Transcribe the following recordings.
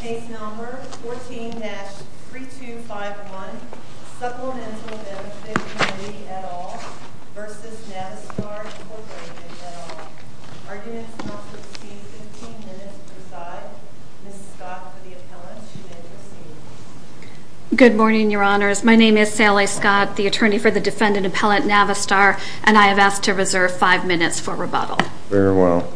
Case number 14-3251, Supplemental Benefit Comm v. Navistar Inc at all. Arguments not to proceed, 15 minutes per side. Ms. Scott for the appellant, she may proceed. Good morning, your honors. My name is Sally Scott, the attorney for the defendant appellant Navistar, and I have asked to reserve 5 minutes for rebuttal. Very well.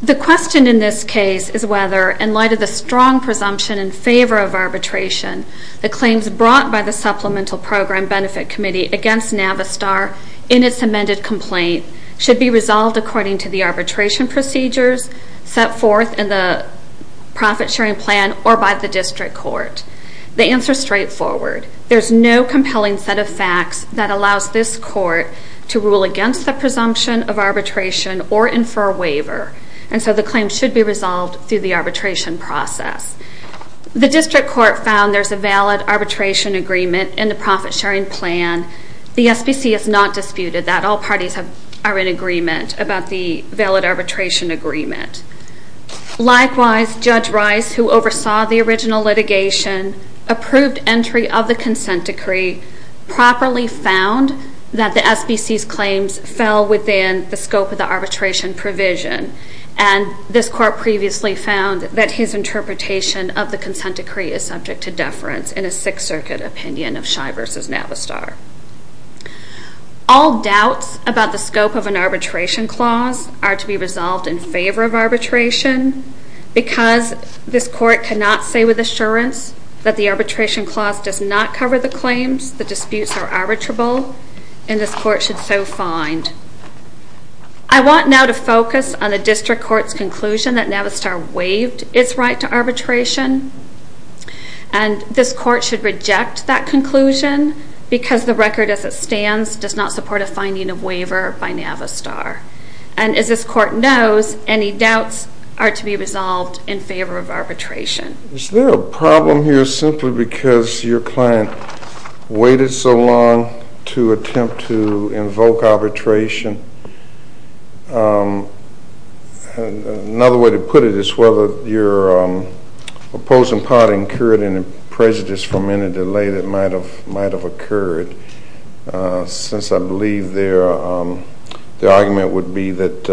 The question in this case is whether, in light of the strong presumption in favor of arbitration, the claims brought by the Supplemental Program Benefit Committee against Navistar in its amended complaint should be resolved according to the arbitration procedures set forth in the profit sharing plan or by the district court. The answer is straightforward. There's no compelling set of facts that allows this court to rule against the presumption of arbitration or infer a waiver, and so the claim should be resolved through the arbitration process. The district court found there's a valid arbitration agreement in the profit sharing plan. The SBC has not disputed that. All parties are in agreement about the valid arbitration agreement. Likewise, Judge Rice, who oversaw the original litigation, approved entry of the consent decree, properly found that the SBC's claims fell within the scope of the arbitration provision, and this court previously found that his interpretation of the consent decree is subject to deference in a Sixth Circuit opinion of Scheib v. Navistar. All doubts about the scope of an arbitration clause are to be resolved in favor of arbitration, because this court cannot say with assurance that the arbitration clause does not cover the claims, the disputes are arbitrable, and this court should so find. I want now to focus on the district court's conclusion that Navistar waived its right to arbitration, and this court should reject that conclusion because the record as it stands does not support a finding of waiver by Navistar. And as this court knows, any doubts are to be resolved in favor of arbitration. Is there a problem here simply because your client waited so long to attempt to invoke arbitration? Another way to put it is whether your opposing party incurred any prejudice from any delay that might have occurred, since I believe their argument would be that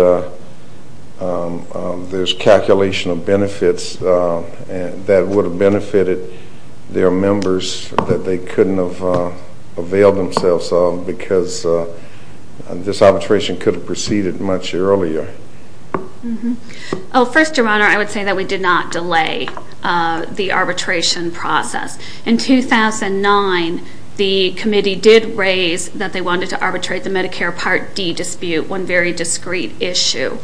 there's calculation of benefits that would have benefited their members that they couldn't have availed themselves of, because this arbitration could have proceeded much earlier. First, Your Honor, I would say that we did not delay the arbitration process. In 2009, the committee did raise that they wanted to arbitrate the Medicare Part D dispute, one very discreet issue.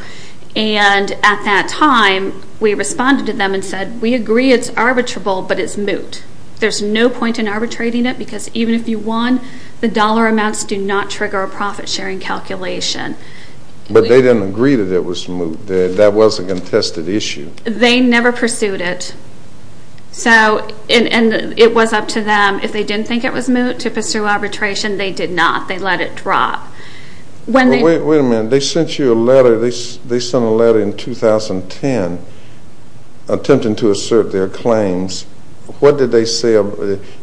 And at that time, we responded to them and said, we agree it's arbitrable, but it's moot. There's no point in arbitrating it, because even if you won, the dollar amounts do not trigger a profit-sharing calculation. But they didn't agree that it was moot. That was a contested issue. They never pursued it. So, and it was up to them. If they didn't think it was moot to pursue arbitration, they did not. They let it drop. Wait a minute. They sent you a letter. They sent a letter in 2010, attempting to assert their claims. What did they say?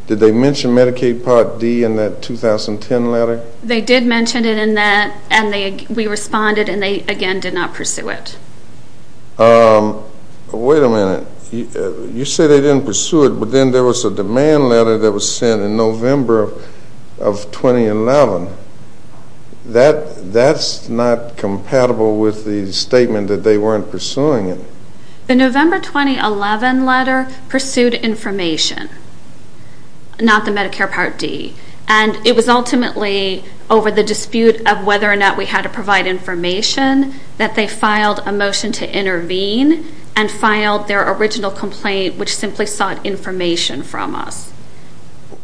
Did they mention Medicaid Part D in that 2010 letter? They did mention it in that, and we responded, and they, again, did not pursue it. Wait a minute. You say they didn't pursue it, but then there was a demand letter that was sent in November of 2011. That's not compatible with the statement that they weren't pursuing it. The November 2011 letter pursued information, not the Medicare Part D. And it was ultimately over the dispute of whether or not we had to provide information that they filed a motion to intervene and filed their original complaint, which simply sought information from us.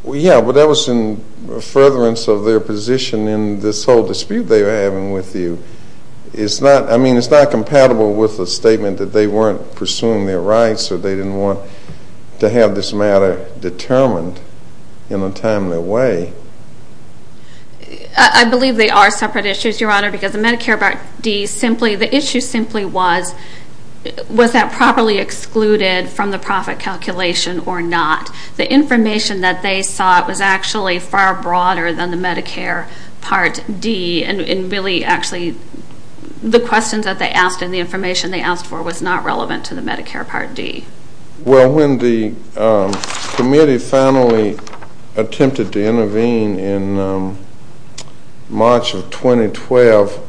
Yeah, but that was in furtherance of their position in this whole dispute they were having with you. It's not, I mean, it's not compatible with the statement that they weren't pursuing their rights or they didn't want to have this matter determined in a timely way. I believe they are separate issues, Your Honor, because the Medicare Part D simply, the issue simply was, was that properly excluded from the profit calculation or not? The information that they sought was actually far broader than the Medicare Part D, and really actually the questions that they asked and the information they asked for was not relevant to the Medicare Part D. Well, when the committee finally attempted to intervene in March of 2012,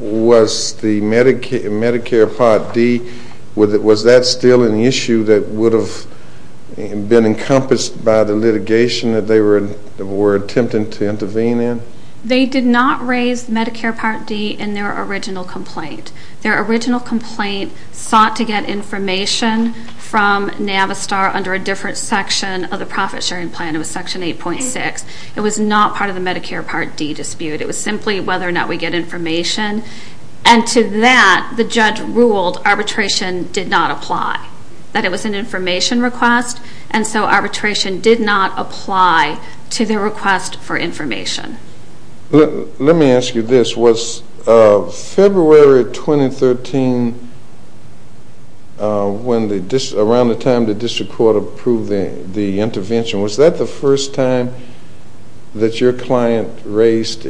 was the Medicare Part D, was that still an issue that would have been encompassed by the litigation that they were attempting to intervene in? They did not raise Medicare Part D in their original complaint. Their original complaint sought to get information from Navistar under a different section of the profit sharing plan. It was Section 8.6. It was not part of the Medicare Part D dispute. It was simply whether or not we get information, and to that the judge ruled arbitration did not apply, that it was an information request, and so arbitration did not apply to their request for information. Let me ask you this. Was February 2013, around the time the district court approved the intervention, was that the first time that your client raised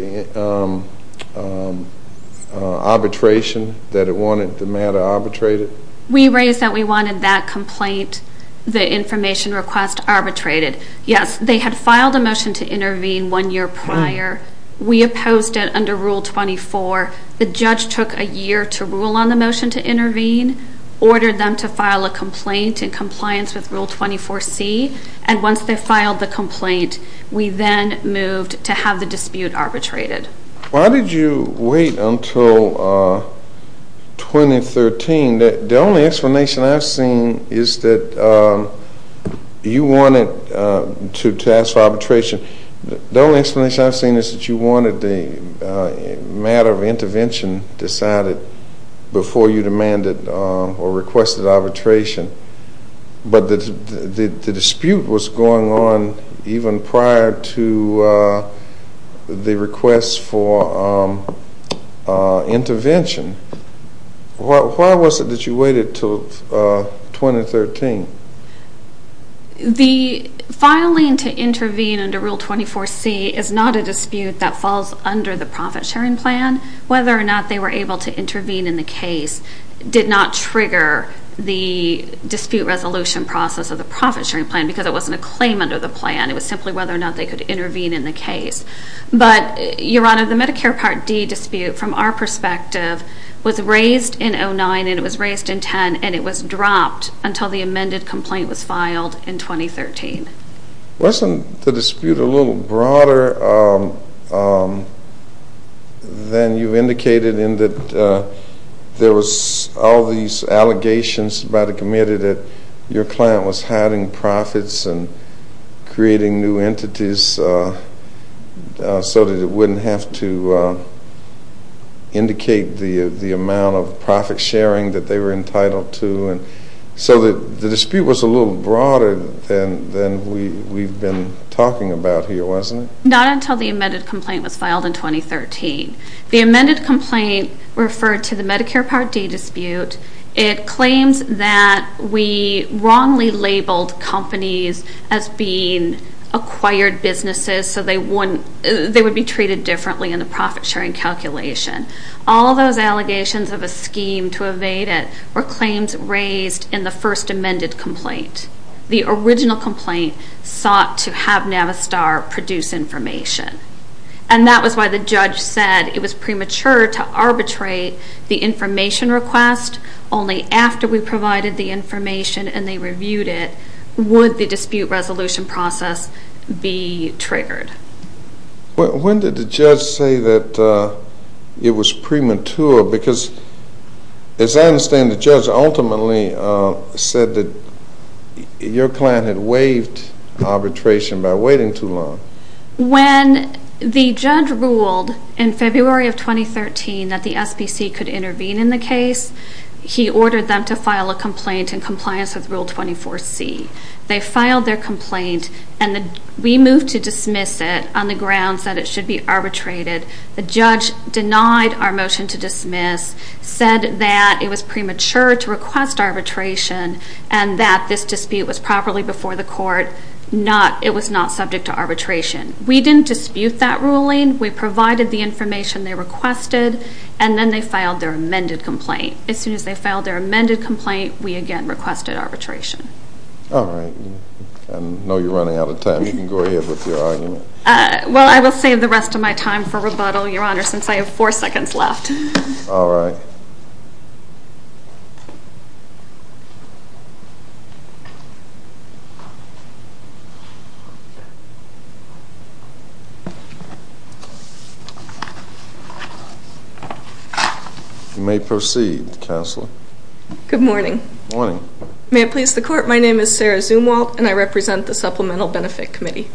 arbitration, that it wanted the matter arbitrated? We raised that we wanted that complaint, the information request, arbitrated. Yes, they had filed a motion to intervene one year prior. We opposed it under Rule 24. The judge took a year to rule on the motion to intervene, ordered them to file a complaint in compliance with Rule 24C, and once they filed the complaint, we then moved to have the dispute arbitrated. Why did you wait until 2013? The only explanation I've seen is that you wanted to ask for arbitration. The only explanation I've seen is that you wanted the matter of intervention decided before you demanded or requested arbitration. But the dispute was going on even prior to the request for intervention. Why was it that you waited until 2013? The filing to intervene under Rule 24C is not a dispute that falls under the profit sharing plan. Whether or not they were able to intervene in the case did not trigger the dispute resolution process of the profit sharing plan because it wasn't a claim under the plan. It was simply whether or not they could intervene in the case. But, Your Honor, the Medicare Part D dispute, from our perspective, was raised in 2009 and it was raised in 2010, and it was dropped until the amended complaint was filed in 2013. Wasn't the dispute a little broader than you indicated in that there was all these allegations about a committee that your client was hiding profits and creating new entities so that it wouldn't have to indicate the amount of profit sharing that they were entitled to? So the dispute was a little broader than we've been talking about here, wasn't it? Not until the amended complaint was filed in 2013. The amended complaint referred to the Medicare Part D dispute. It claims that we wrongly labeled companies as being acquired businesses so they would be treated differently in the profit sharing calculation. All those allegations of a scheme to evade it were claims raised in the first amended complaint. The original complaint sought to have Navistar produce information. And that was why the judge said it was premature to arbitrate the information request. Only after we provided the information and they reviewed it would the dispute resolution process be triggered. When did the judge say that it was premature? Because as I understand, the judge ultimately said that your client had waived arbitration by waiting too long. When the judge ruled in February of 2013 that the SPC could intervene in the case, he ordered them to file a complaint in compliance with Rule 24C. They filed their complaint and we moved to dismiss it on the grounds that it should be arbitrated. The judge denied our motion to dismiss, said that it was premature to request arbitration and that this dispute was properly before the court. It was not subject to arbitration. We didn't dispute that ruling. We provided the information they requested and then they filed their amended complaint. As soon as they filed their amended complaint, we again requested arbitration. All right. I know you're running out of time. You can go ahead with your argument. Well, I will save the rest of my time for rebuttal, Your Honor, since I have four seconds left. All right. You may proceed, Counselor. Good morning. Good morning. May it please the Court, my name is Sarah Zumwalt and I represent the Supplemental Benefit Committee.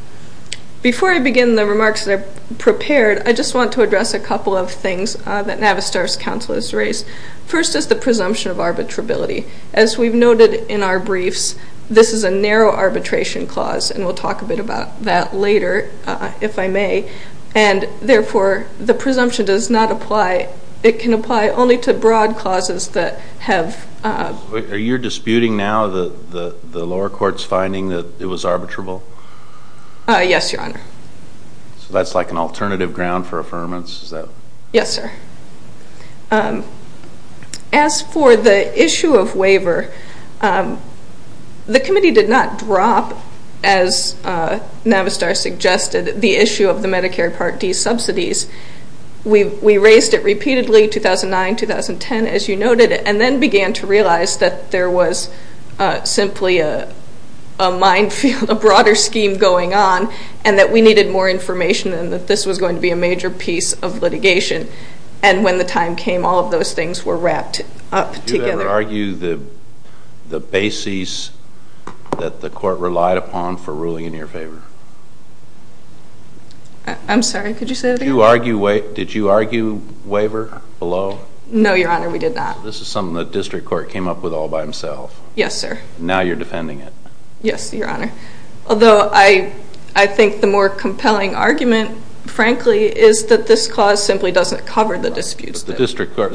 Before I begin the remarks that I've prepared, I just want to address a couple of things that Navistar's counsel has raised. First is the presumption of arbitrability. As we've noted in our briefs, this is a narrow arbitration clause and we'll talk a bit about that later, if I may. And therefore, the presumption does not apply. It can apply only to broad clauses that have... Are you disputing now the lower court's finding that it was arbitrable? Yes, Your Honor. So that's like an alternative ground for affirmance? Yes, sir. As for the issue of waiver, the committee did not drop, as Navistar suggested, the issue of the Medicare Part D subsidies. We raised it repeatedly, 2009, 2010, as you noted, and then began to realize that there was simply a minefield, a broader scheme going on, and that we needed more information and that this was going to be a major piece of litigation. And when the time came, all of those things were wrapped up together. Do you ever argue the bases that the court relied upon for ruling in your favor? I'm sorry, could you say that again? Did you argue waiver below? No, Your Honor, we did not. This is something the district court came up with all by himself. Yes, sir. Now you're defending it. Yes, Your Honor. Although I think the more compelling argument, frankly, is that this clause simply doesn't cover the disputes.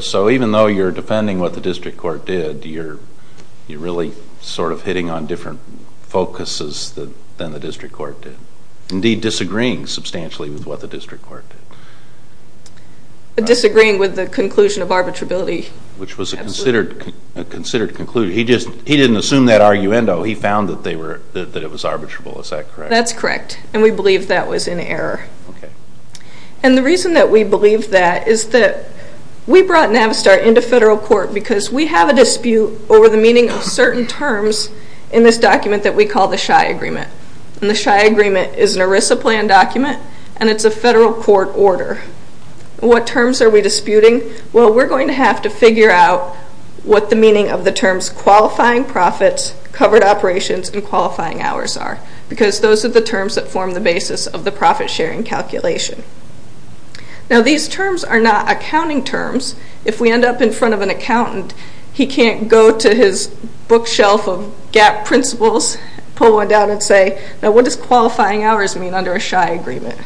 So even though you're defending what the district court did, you're really sort of hitting on different focuses than the district court did. Indeed, disagreeing substantially with what the district court did. Disagreeing with the conclusion of arbitrability. Which was a considered conclusion. He didn't assume that arguendo. He found that it was arbitrable. Is that correct? That's correct, and we believe that was in error. And the reason that we believe that is that we brought Navistar into federal court because we have a dispute over the meaning of certain terms in this document that we call the Scheye Agreement. And the Scheye Agreement is an ERISA plan document, and it's a federal court order. What terms are we disputing? Well, we're going to have to figure out what the meaning of the terms qualifying profits, covered operations, and qualifying hours are. Because those are the terms that form the basis of the profit-sharing calculation. Now, these terms are not accounting terms. If we end up in front of an accountant, he can't go to his bookshelf of GAP principles, pull one down, and say, Now, what does qualifying hours mean under a Scheye Agreement?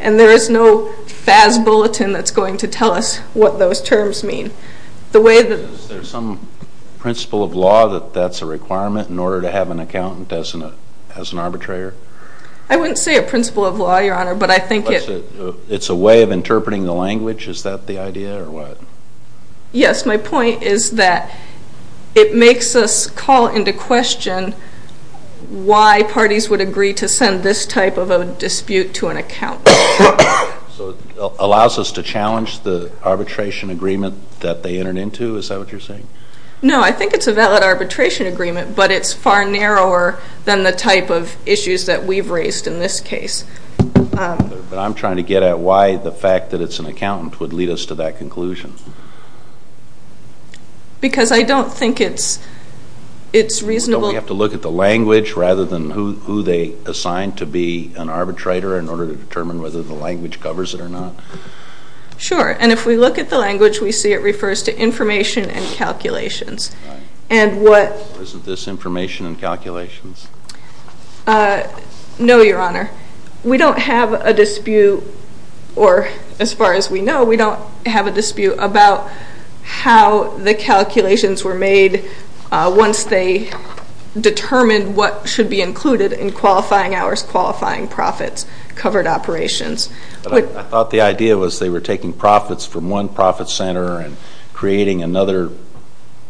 And there is no FAS bulletin that's going to tell us what those terms mean. Is there some principle of law that that's a requirement in order to have an accountant as an arbitrator? I wouldn't say a principle of law, Your Honor, but I think it's a way of interpreting the language. Is that the idea or what? Yes. My point is that it makes us call into question why parties would agree to send this type of a dispute to an accountant. So it allows us to challenge the arbitration agreement that they entered into? Is that what you're saying? No, I think it's a valid arbitration agreement, but it's far narrower than the type of issues that we've raised in this case. But I'm trying to get at why the fact that it's an accountant would lead us to that conclusion. Because I don't think it's reasonable. Why don't we have to look at the language rather than who they assigned to be an arbitrator in order to determine whether the language covers it or not? Sure. And if we look at the language, we see it refers to information and calculations. Isn't this information and calculations? No, Your Honor. We don't have a dispute, or as far as we know, we don't have a dispute about how the calculations were made once they determined what should be included in qualifying hours, qualifying profits, covered operations. I thought the idea was they were taking profits from one profit center and creating another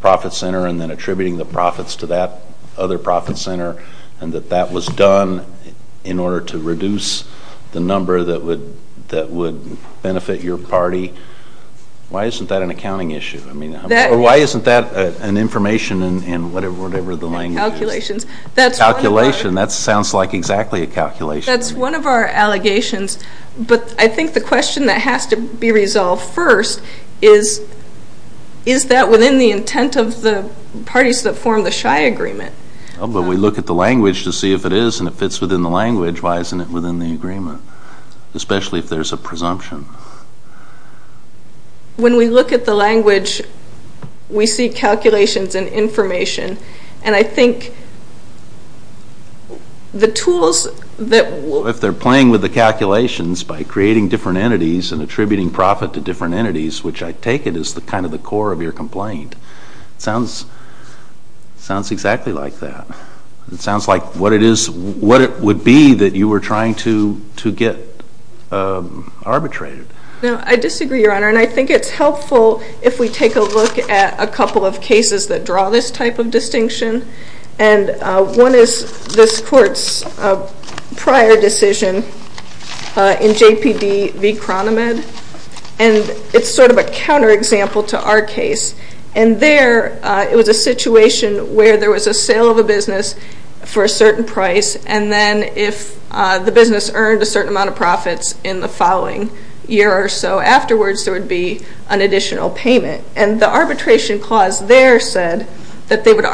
profit center and then attributing the profits to that other profit center and that that was done in order to reduce the number that would benefit your party. Why isn't that an accounting issue? Or why isn't that an information in whatever the language is? Calculations. Calculation. That sounds like exactly a calculation. That's one of our allegations. But I think the question that has to be resolved first is, is that within the intent of the parties that formed the Shai Agreement? But we look at the language to see if it is and if it's within the language, why isn't it within the agreement? Especially if there's a presumption. When we look at the language, we see calculations and information. And I think the tools that... If they're playing with the calculations by creating different entities and attributing profit to different entities, which I take it is kind of the core of your complaint. It sounds exactly like that. It sounds like what it would be that you were trying to get arbitrated. I disagree, Your Honor, and I think it's helpful if we take a look at a couple of cases that draw this type of distinction. And one is this Court's prior decision in JPD v. Cronamed. And it's sort of a counterexample to our case. And there, it was a situation where there was a sale of a business for a certain price, and then if the business earned a certain amount of profits in the following year or so afterwards, there would be an additional payment. And the arbitration clause there said that they would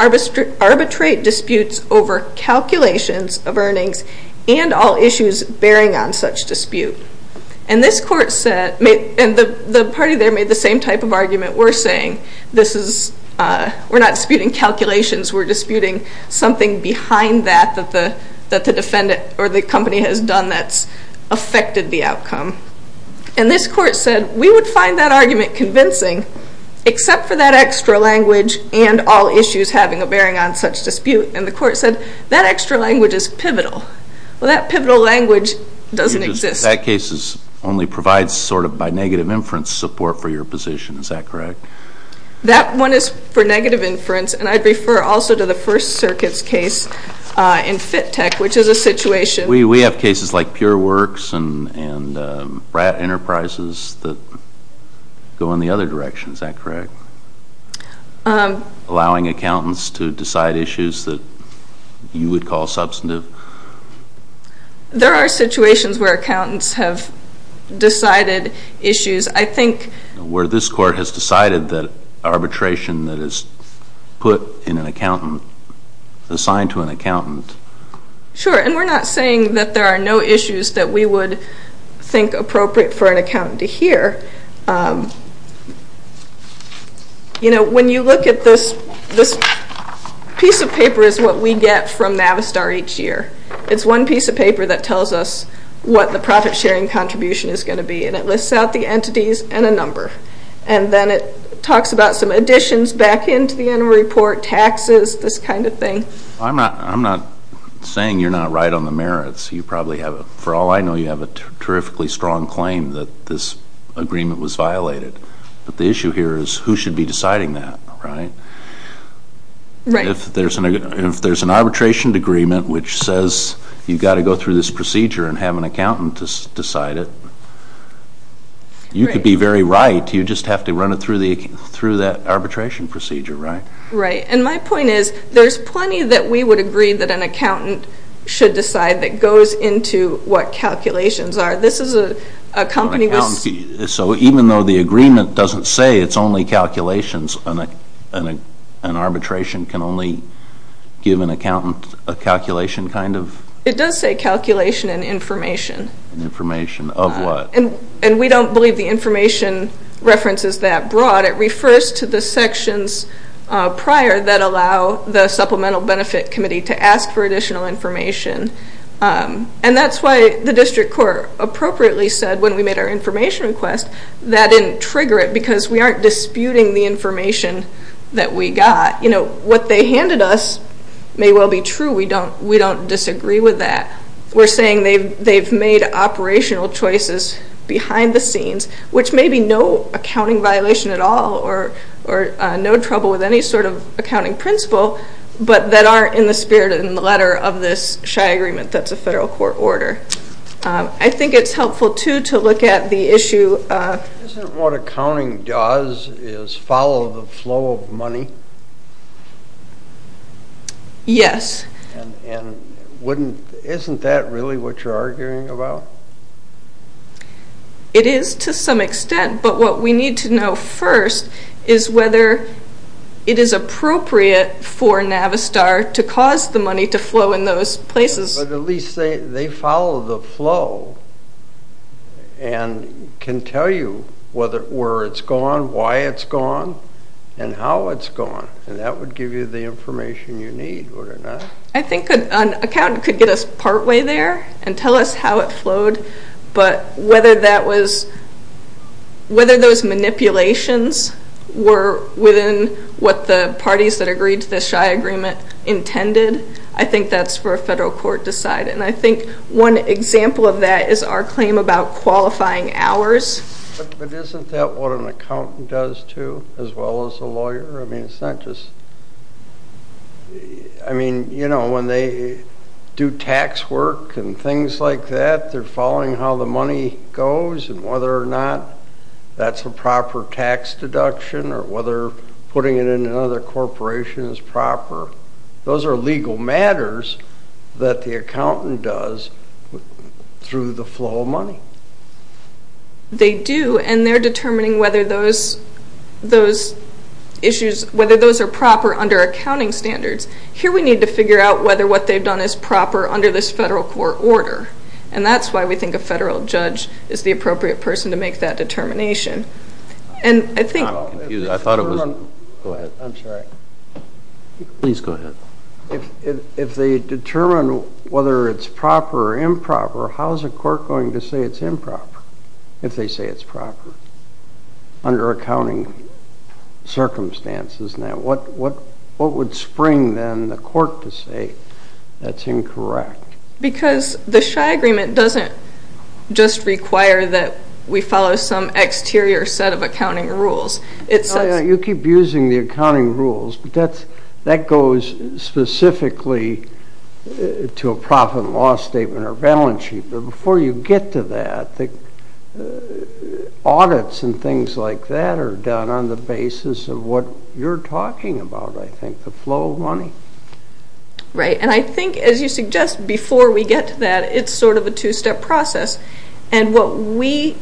arbitrate disputes over calculations of earnings and all issues bearing on such dispute. And this Court said... And the party there made the same type of argument we're saying. This is... We're not disputing calculations. We're disputing something behind that that the defendant or the company has done that's affected the outcome. And this Court said we would find that argument convincing except for that extra language and all issues bearing on such dispute. And the Court said that extra language is pivotal. Well, that pivotal language doesn't exist. That case only provides sort of by negative inference support for your position. Is that correct? That one is for negative inference, and I'd refer also to the First Circuit's case in FITTECH, which is a situation... We have cases like Pure Works and Brat Enterprises that go in the other direction. Is that correct? Allowing accountants to decide issues that you would call substantive? There are situations where accountants have decided issues. I think... Where this Court has decided that arbitration that is put in an accountant, assigned to an accountant... Sure, and we're not saying that there are no issues that we would think appropriate for an accountant to hear. You know, when you look at this... This piece of paper is what we get from Navistar each year. It's one piece of paper that tells us what the profit-sharing contribution is going to be, and it lists out the entities and a number. And then it talks about some additions back into the interim report, taxes, this kind of thing. I'm not saying you're not right on the merits. You probably have... For all I know, you have a terrifically strong claim that this agreement was violated. But the issue here is who should be deciding that, right? Right. If there's an arbitration agreement which says you've got to go through this procedure and have an accountant decide it, you could be very right. You just have to run it through that arbitration procedure, right? Right. And my point is there's plenty that we would agree that an accountant should decide that goes into what calculations are. This is a company... So even though the agreement doesn't say it's only calculations, an arbitration can only give an accountant a calculation kind of... It does say calculation and information. Information of what? And we don't believe the information reference is that broad. It refers to the sections prior that allow the Supplemental Benefit Committee to ask for additional information. And that's why the district court appropriately said when we made our information request that didn't trigger it because we aren't disputing the information that we got. What they handed us may well be true. We don't disagree with that. We're saying they've made operational choices behind the scenes, which may be no accounting violation at all or no trouble with any sort of accounting principle, but that aren't in the spirit in the letter of this shy agreement that's a federal court order. I think it's helpful, too, to look at the issue of... Isn't what accounting does is follow the flow of money? Yes. And isn't that really what you're arguing about? It is to some extent, but what we need to know first is whether it is appropriate for Navistar to cause the money to flow in those places. But at least they follow the flow and can tell you where it's gone, why it's gone, and how it's gone, and that would give you the information you need, would it not? I think an accountant could get us partway there and tell us how it flowed, but whether those manipulations were within what the parties that agreed to this shy agreement intended, I think that's for a federal court to decide, and I think one example of that is our claim about qualifying hours. But isn't that what an accountant does, too, as well as a lawyer? I mean, it's not just... I mean, you know, when they do tax work and things like that, they're following how the money goes and whether or not that's a proper tax deduction or whether putting it in another corporation is proper. Those are legal matters that the accountant does through the flow of money. They do, and they're determining whether those issues... whether those are proper under accounting standards. Here we need to figure out whether what they've done is proper under this federal court order, and that's why we think a federal judge is the appropriate person to make that determination. And I think... I'm confused. I thought it was... Go ahead. I'm sorry. Please go ahead. If they determine whether it's proper or improper, how's a court going to say it's improper if they say it's proper under accounting circumstances? What would spring, then, the court to say that's incorrect? Because the S.H.I.E. agreement doesn't just require that we follow some exterior set of accounting rules. You keep using the accounting rules, but that goes specifically to a profit and loss statement or balance sheet. But before you get to that, audits and things like that are done on the basis of what you're talking about, I think, the flow of money. Right, and I think, as you suggest, before we get to that, it's sort of a two-step process. And what we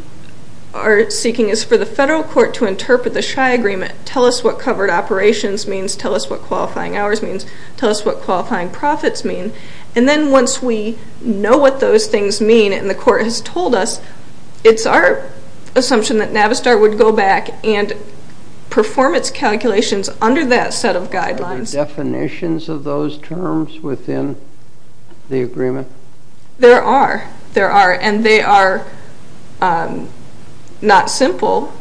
are seeking is for the federal court to interpret the S.H.I.E. agreement, tell us what covered operations means, tell us what qualifying hours means, tell us what qualifying profits mean, and then once we know what those things mean and the court has told us, it's our assumption that Navistar would go back and perform its calculations under that set of guidelines. Are there definitions of those terms within the agreement? There are. There are, and they are not simple.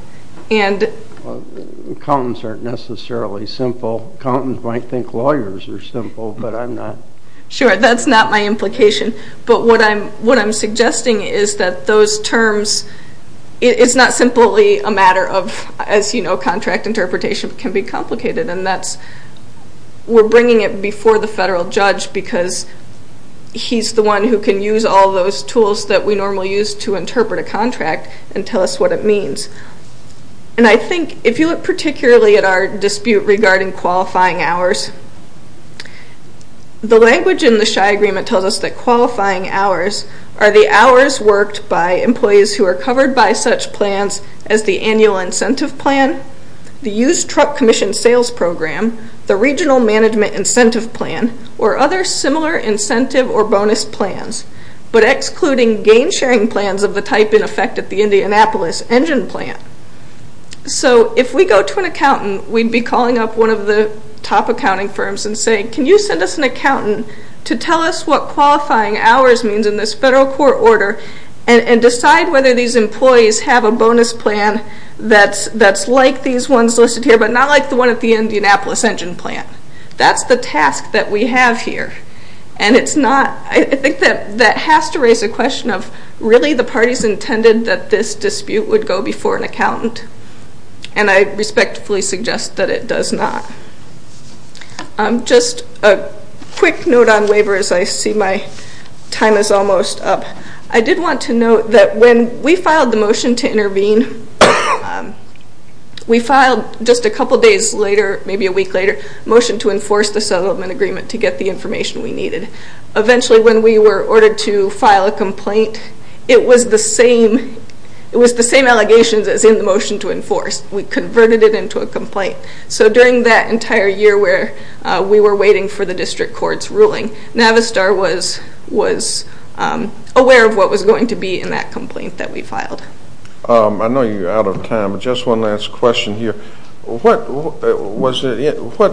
Accountants aren't necessarily simple. Accountants might think lawyers are simple, but I'm not. Sure, that's not my implication. But what I'm suggesting is that those terms, it's not simply a matter of, as you know, contract interpretation can be complicated, and we're bringing it before the federal judge because he's the one who can use all those tools that we normally use to interpret a contract and tell us what it means. And I think, if you look particularly at our dispute regarding qualifying hours, the language in the S.H.I.E. agreement tells us that qualifying hours are the hours worked by employees who are covered by such plans as the annual incentive plan, the used truck commission sales program, the regional management incentive plan, or other similar incentive or bonus plans, but excluding gain-sharing plans of the type in effect at the Indianapolis engine plant. So if we go to an accountant, we'd be calling up one of the top accounting firms and saying, can you send us an accountant to tell us what qualifying hours means in this federal court order and decide whether these employees have a bonus plan that's like these ones listed here, but not like the one at the Indianapolis engine plant. That's the task that we have here, and it's not, I think that has to raise a question of, really the party's intended that this dispute would go before an accountant, and I respectfully suggest that it does not. Just a quick note on waiver as I see my time is almost up. I did want to note that when we filed the motion to intervene, we filed just a couple days later, maybe a week later, a motion to enforce the settlement agreement to get the information we needed. Eventually when we were ordered to file a complaint, it was the same allegations as in the motion to enforce. We converted it into a complaint. So during that entire year where we were waiting for the district court's ruling, Navistar was aware of what was going to be in that complaint that we filed. I know you're out of time, but just one last question here. What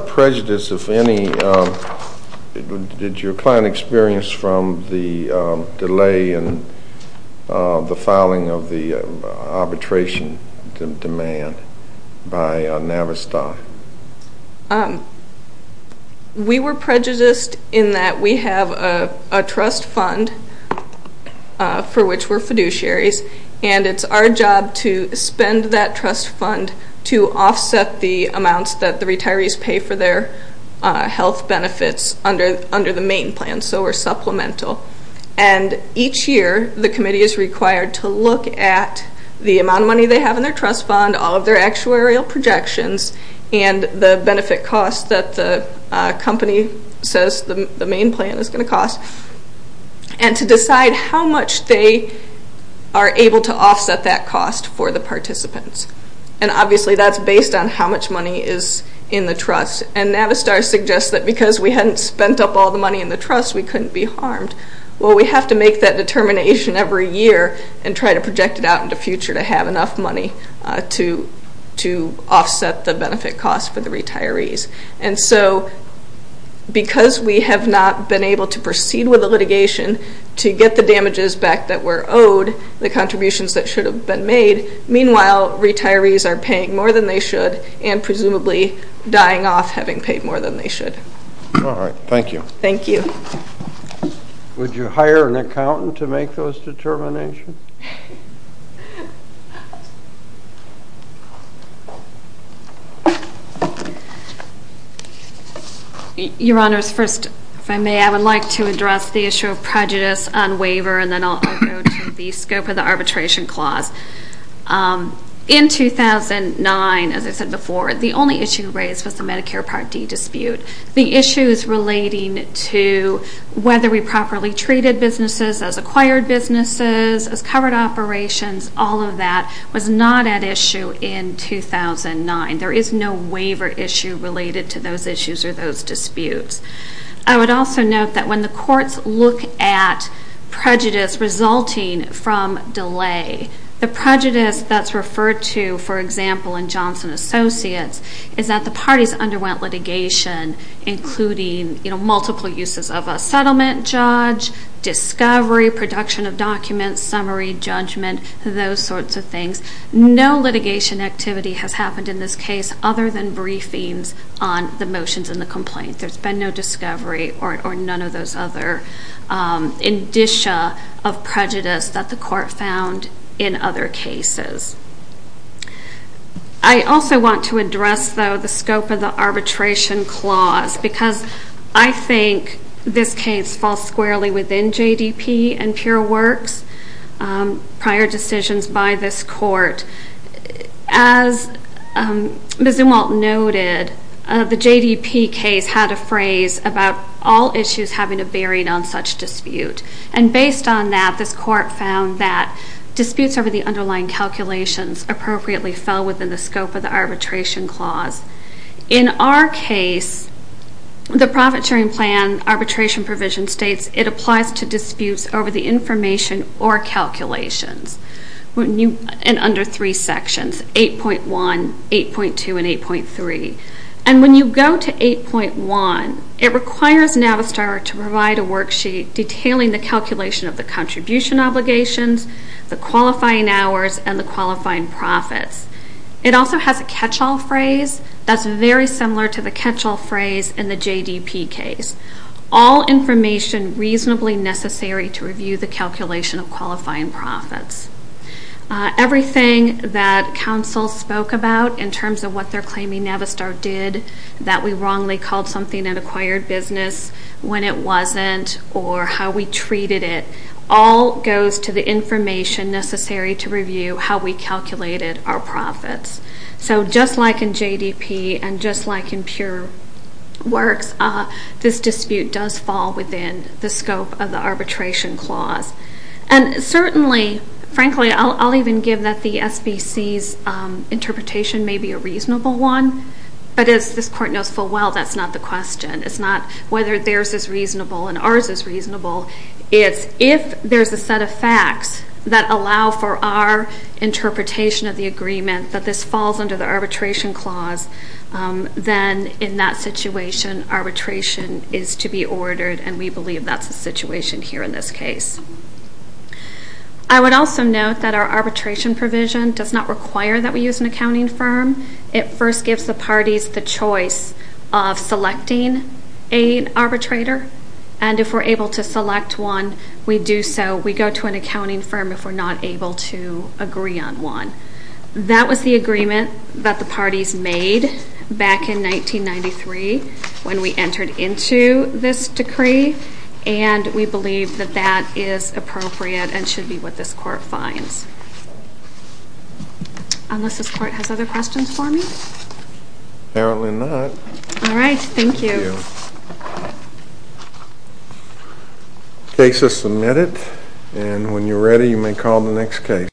prejudice, if any, did your client experience from the delay and the filing of the arbitration demand by Navistar? We were prejudiced in that we have a trust fund for which we're fiduciaries, and it's our job to spend that trust fund to offset the amounts that the retirees pay for their health benefits under the main plan, so we're supplemental. And each year the committee is required to look at the amount of money they have in their trust fund, all of their actuarial projections, and the benefit costs that the company says the main plan is going to cost, and to decide how much they are able to offset that cost for the participants. And obviously that's based on how much money is in the trust, and Navistar suggests that because we hadn't spent up all the money in the trust, we couldn't be harmed. Well, we have to make that determination every year and try to project it out in the future to have enough money to offset the benefit costs for the retirees. And so because we have not been able to proceed with the litigation to get the damages back that were owed, the contributions that should have been made, meanwhile retirees are paying more than they should and presumably dying off having paid more than they should. All right. Thank you. Thank you. Would you hire an accountant to make those determinations? Your Honors, first, if I may, I would like to address the issue of prejudice on waiver, and then I'll go to the scope of the arbitration clause. In 2009, as I said before, the only issue raised was the Medicare Part D dispute. The issues relating to whether we properly treated businesses as acquired businesses, as covered operations, all of that was not at issue in 2009. There is no waiver issue related to those issues or those disputes. I would also note that when the courts look at prejudice resulting from delay, the prejudice that's referred to, for example, in Johnson Associates, is that the parties underwent litigation including multiple uses of a settlement judge, discovery, production of documents, summary, judgment, those sorts of things. No litigation activity has happened in this case other than briefings on the motions in the complaint. There's been no discovery or none of those other indicia of prejudice that the court found in other cases. I also want to address, though, the scope of the arbitration clause because I think this case falls squarely within JDP and Pure Works prior decisions by this court. As Ms. Umwalt noted, the JDP case had a phrase about all issues having a bearing on such dispute, and based on that, this court found that disputes over the underlying calculations appropriately fell within the scope of the arbitration clause. In our case, the profit sharing plan arbitration provision states it applies to disputes over the information or calculations in under three sections, 8.1, 8.2, and 8.3. And when you go to 8.1, it requires Navistar to provide a worksheet detailing the calculation of the contribution obligations, the qualifying hours, and the qualifying profits. It also has a catch-all phrase that's very similar to the catch-all phrase in the JDP case. All information reasonably necessary to review the calculation of qualifying profits. Everything that counsel spoke about in terms of what they're claiming Navistar did, that we wrongly called something an acquired business when it wasn't, or how we treated it, all goes to the information necessary to review how we calculated our profits. So just like in JDP and just like in Pure Works, this dispute does fall within the scope of the arbitration clause. And certainly, frankly, I'll even give that the SBC's interpretation may be a reasonable one, but as this court knows full well, that's not the question. It's not whether theirs is reasonable and ours is reasonable. It's if there's a set of facts that allow for our interpretation of the agreement that this falls under the arbitration clause, then in that situation, arbitration is to be ordered, and we believe that's the situation here in this case. I would also note that our arbitration provision does not require that we use an accounting firm. It first gives the parties the choice of selecting an arbitrator, and if we're able to select one, we do so. We go to an accounting firm if we're not able to agree on one. That was the agreement that the parties made back in 1993 when we entered into this decree, and we believe that that is appropriate and should be what this court finds. Unless this court has other questions for me? Apparently not. All right. Thank you. Thank you. Case is submitted, and when you're ready, you may call the next case.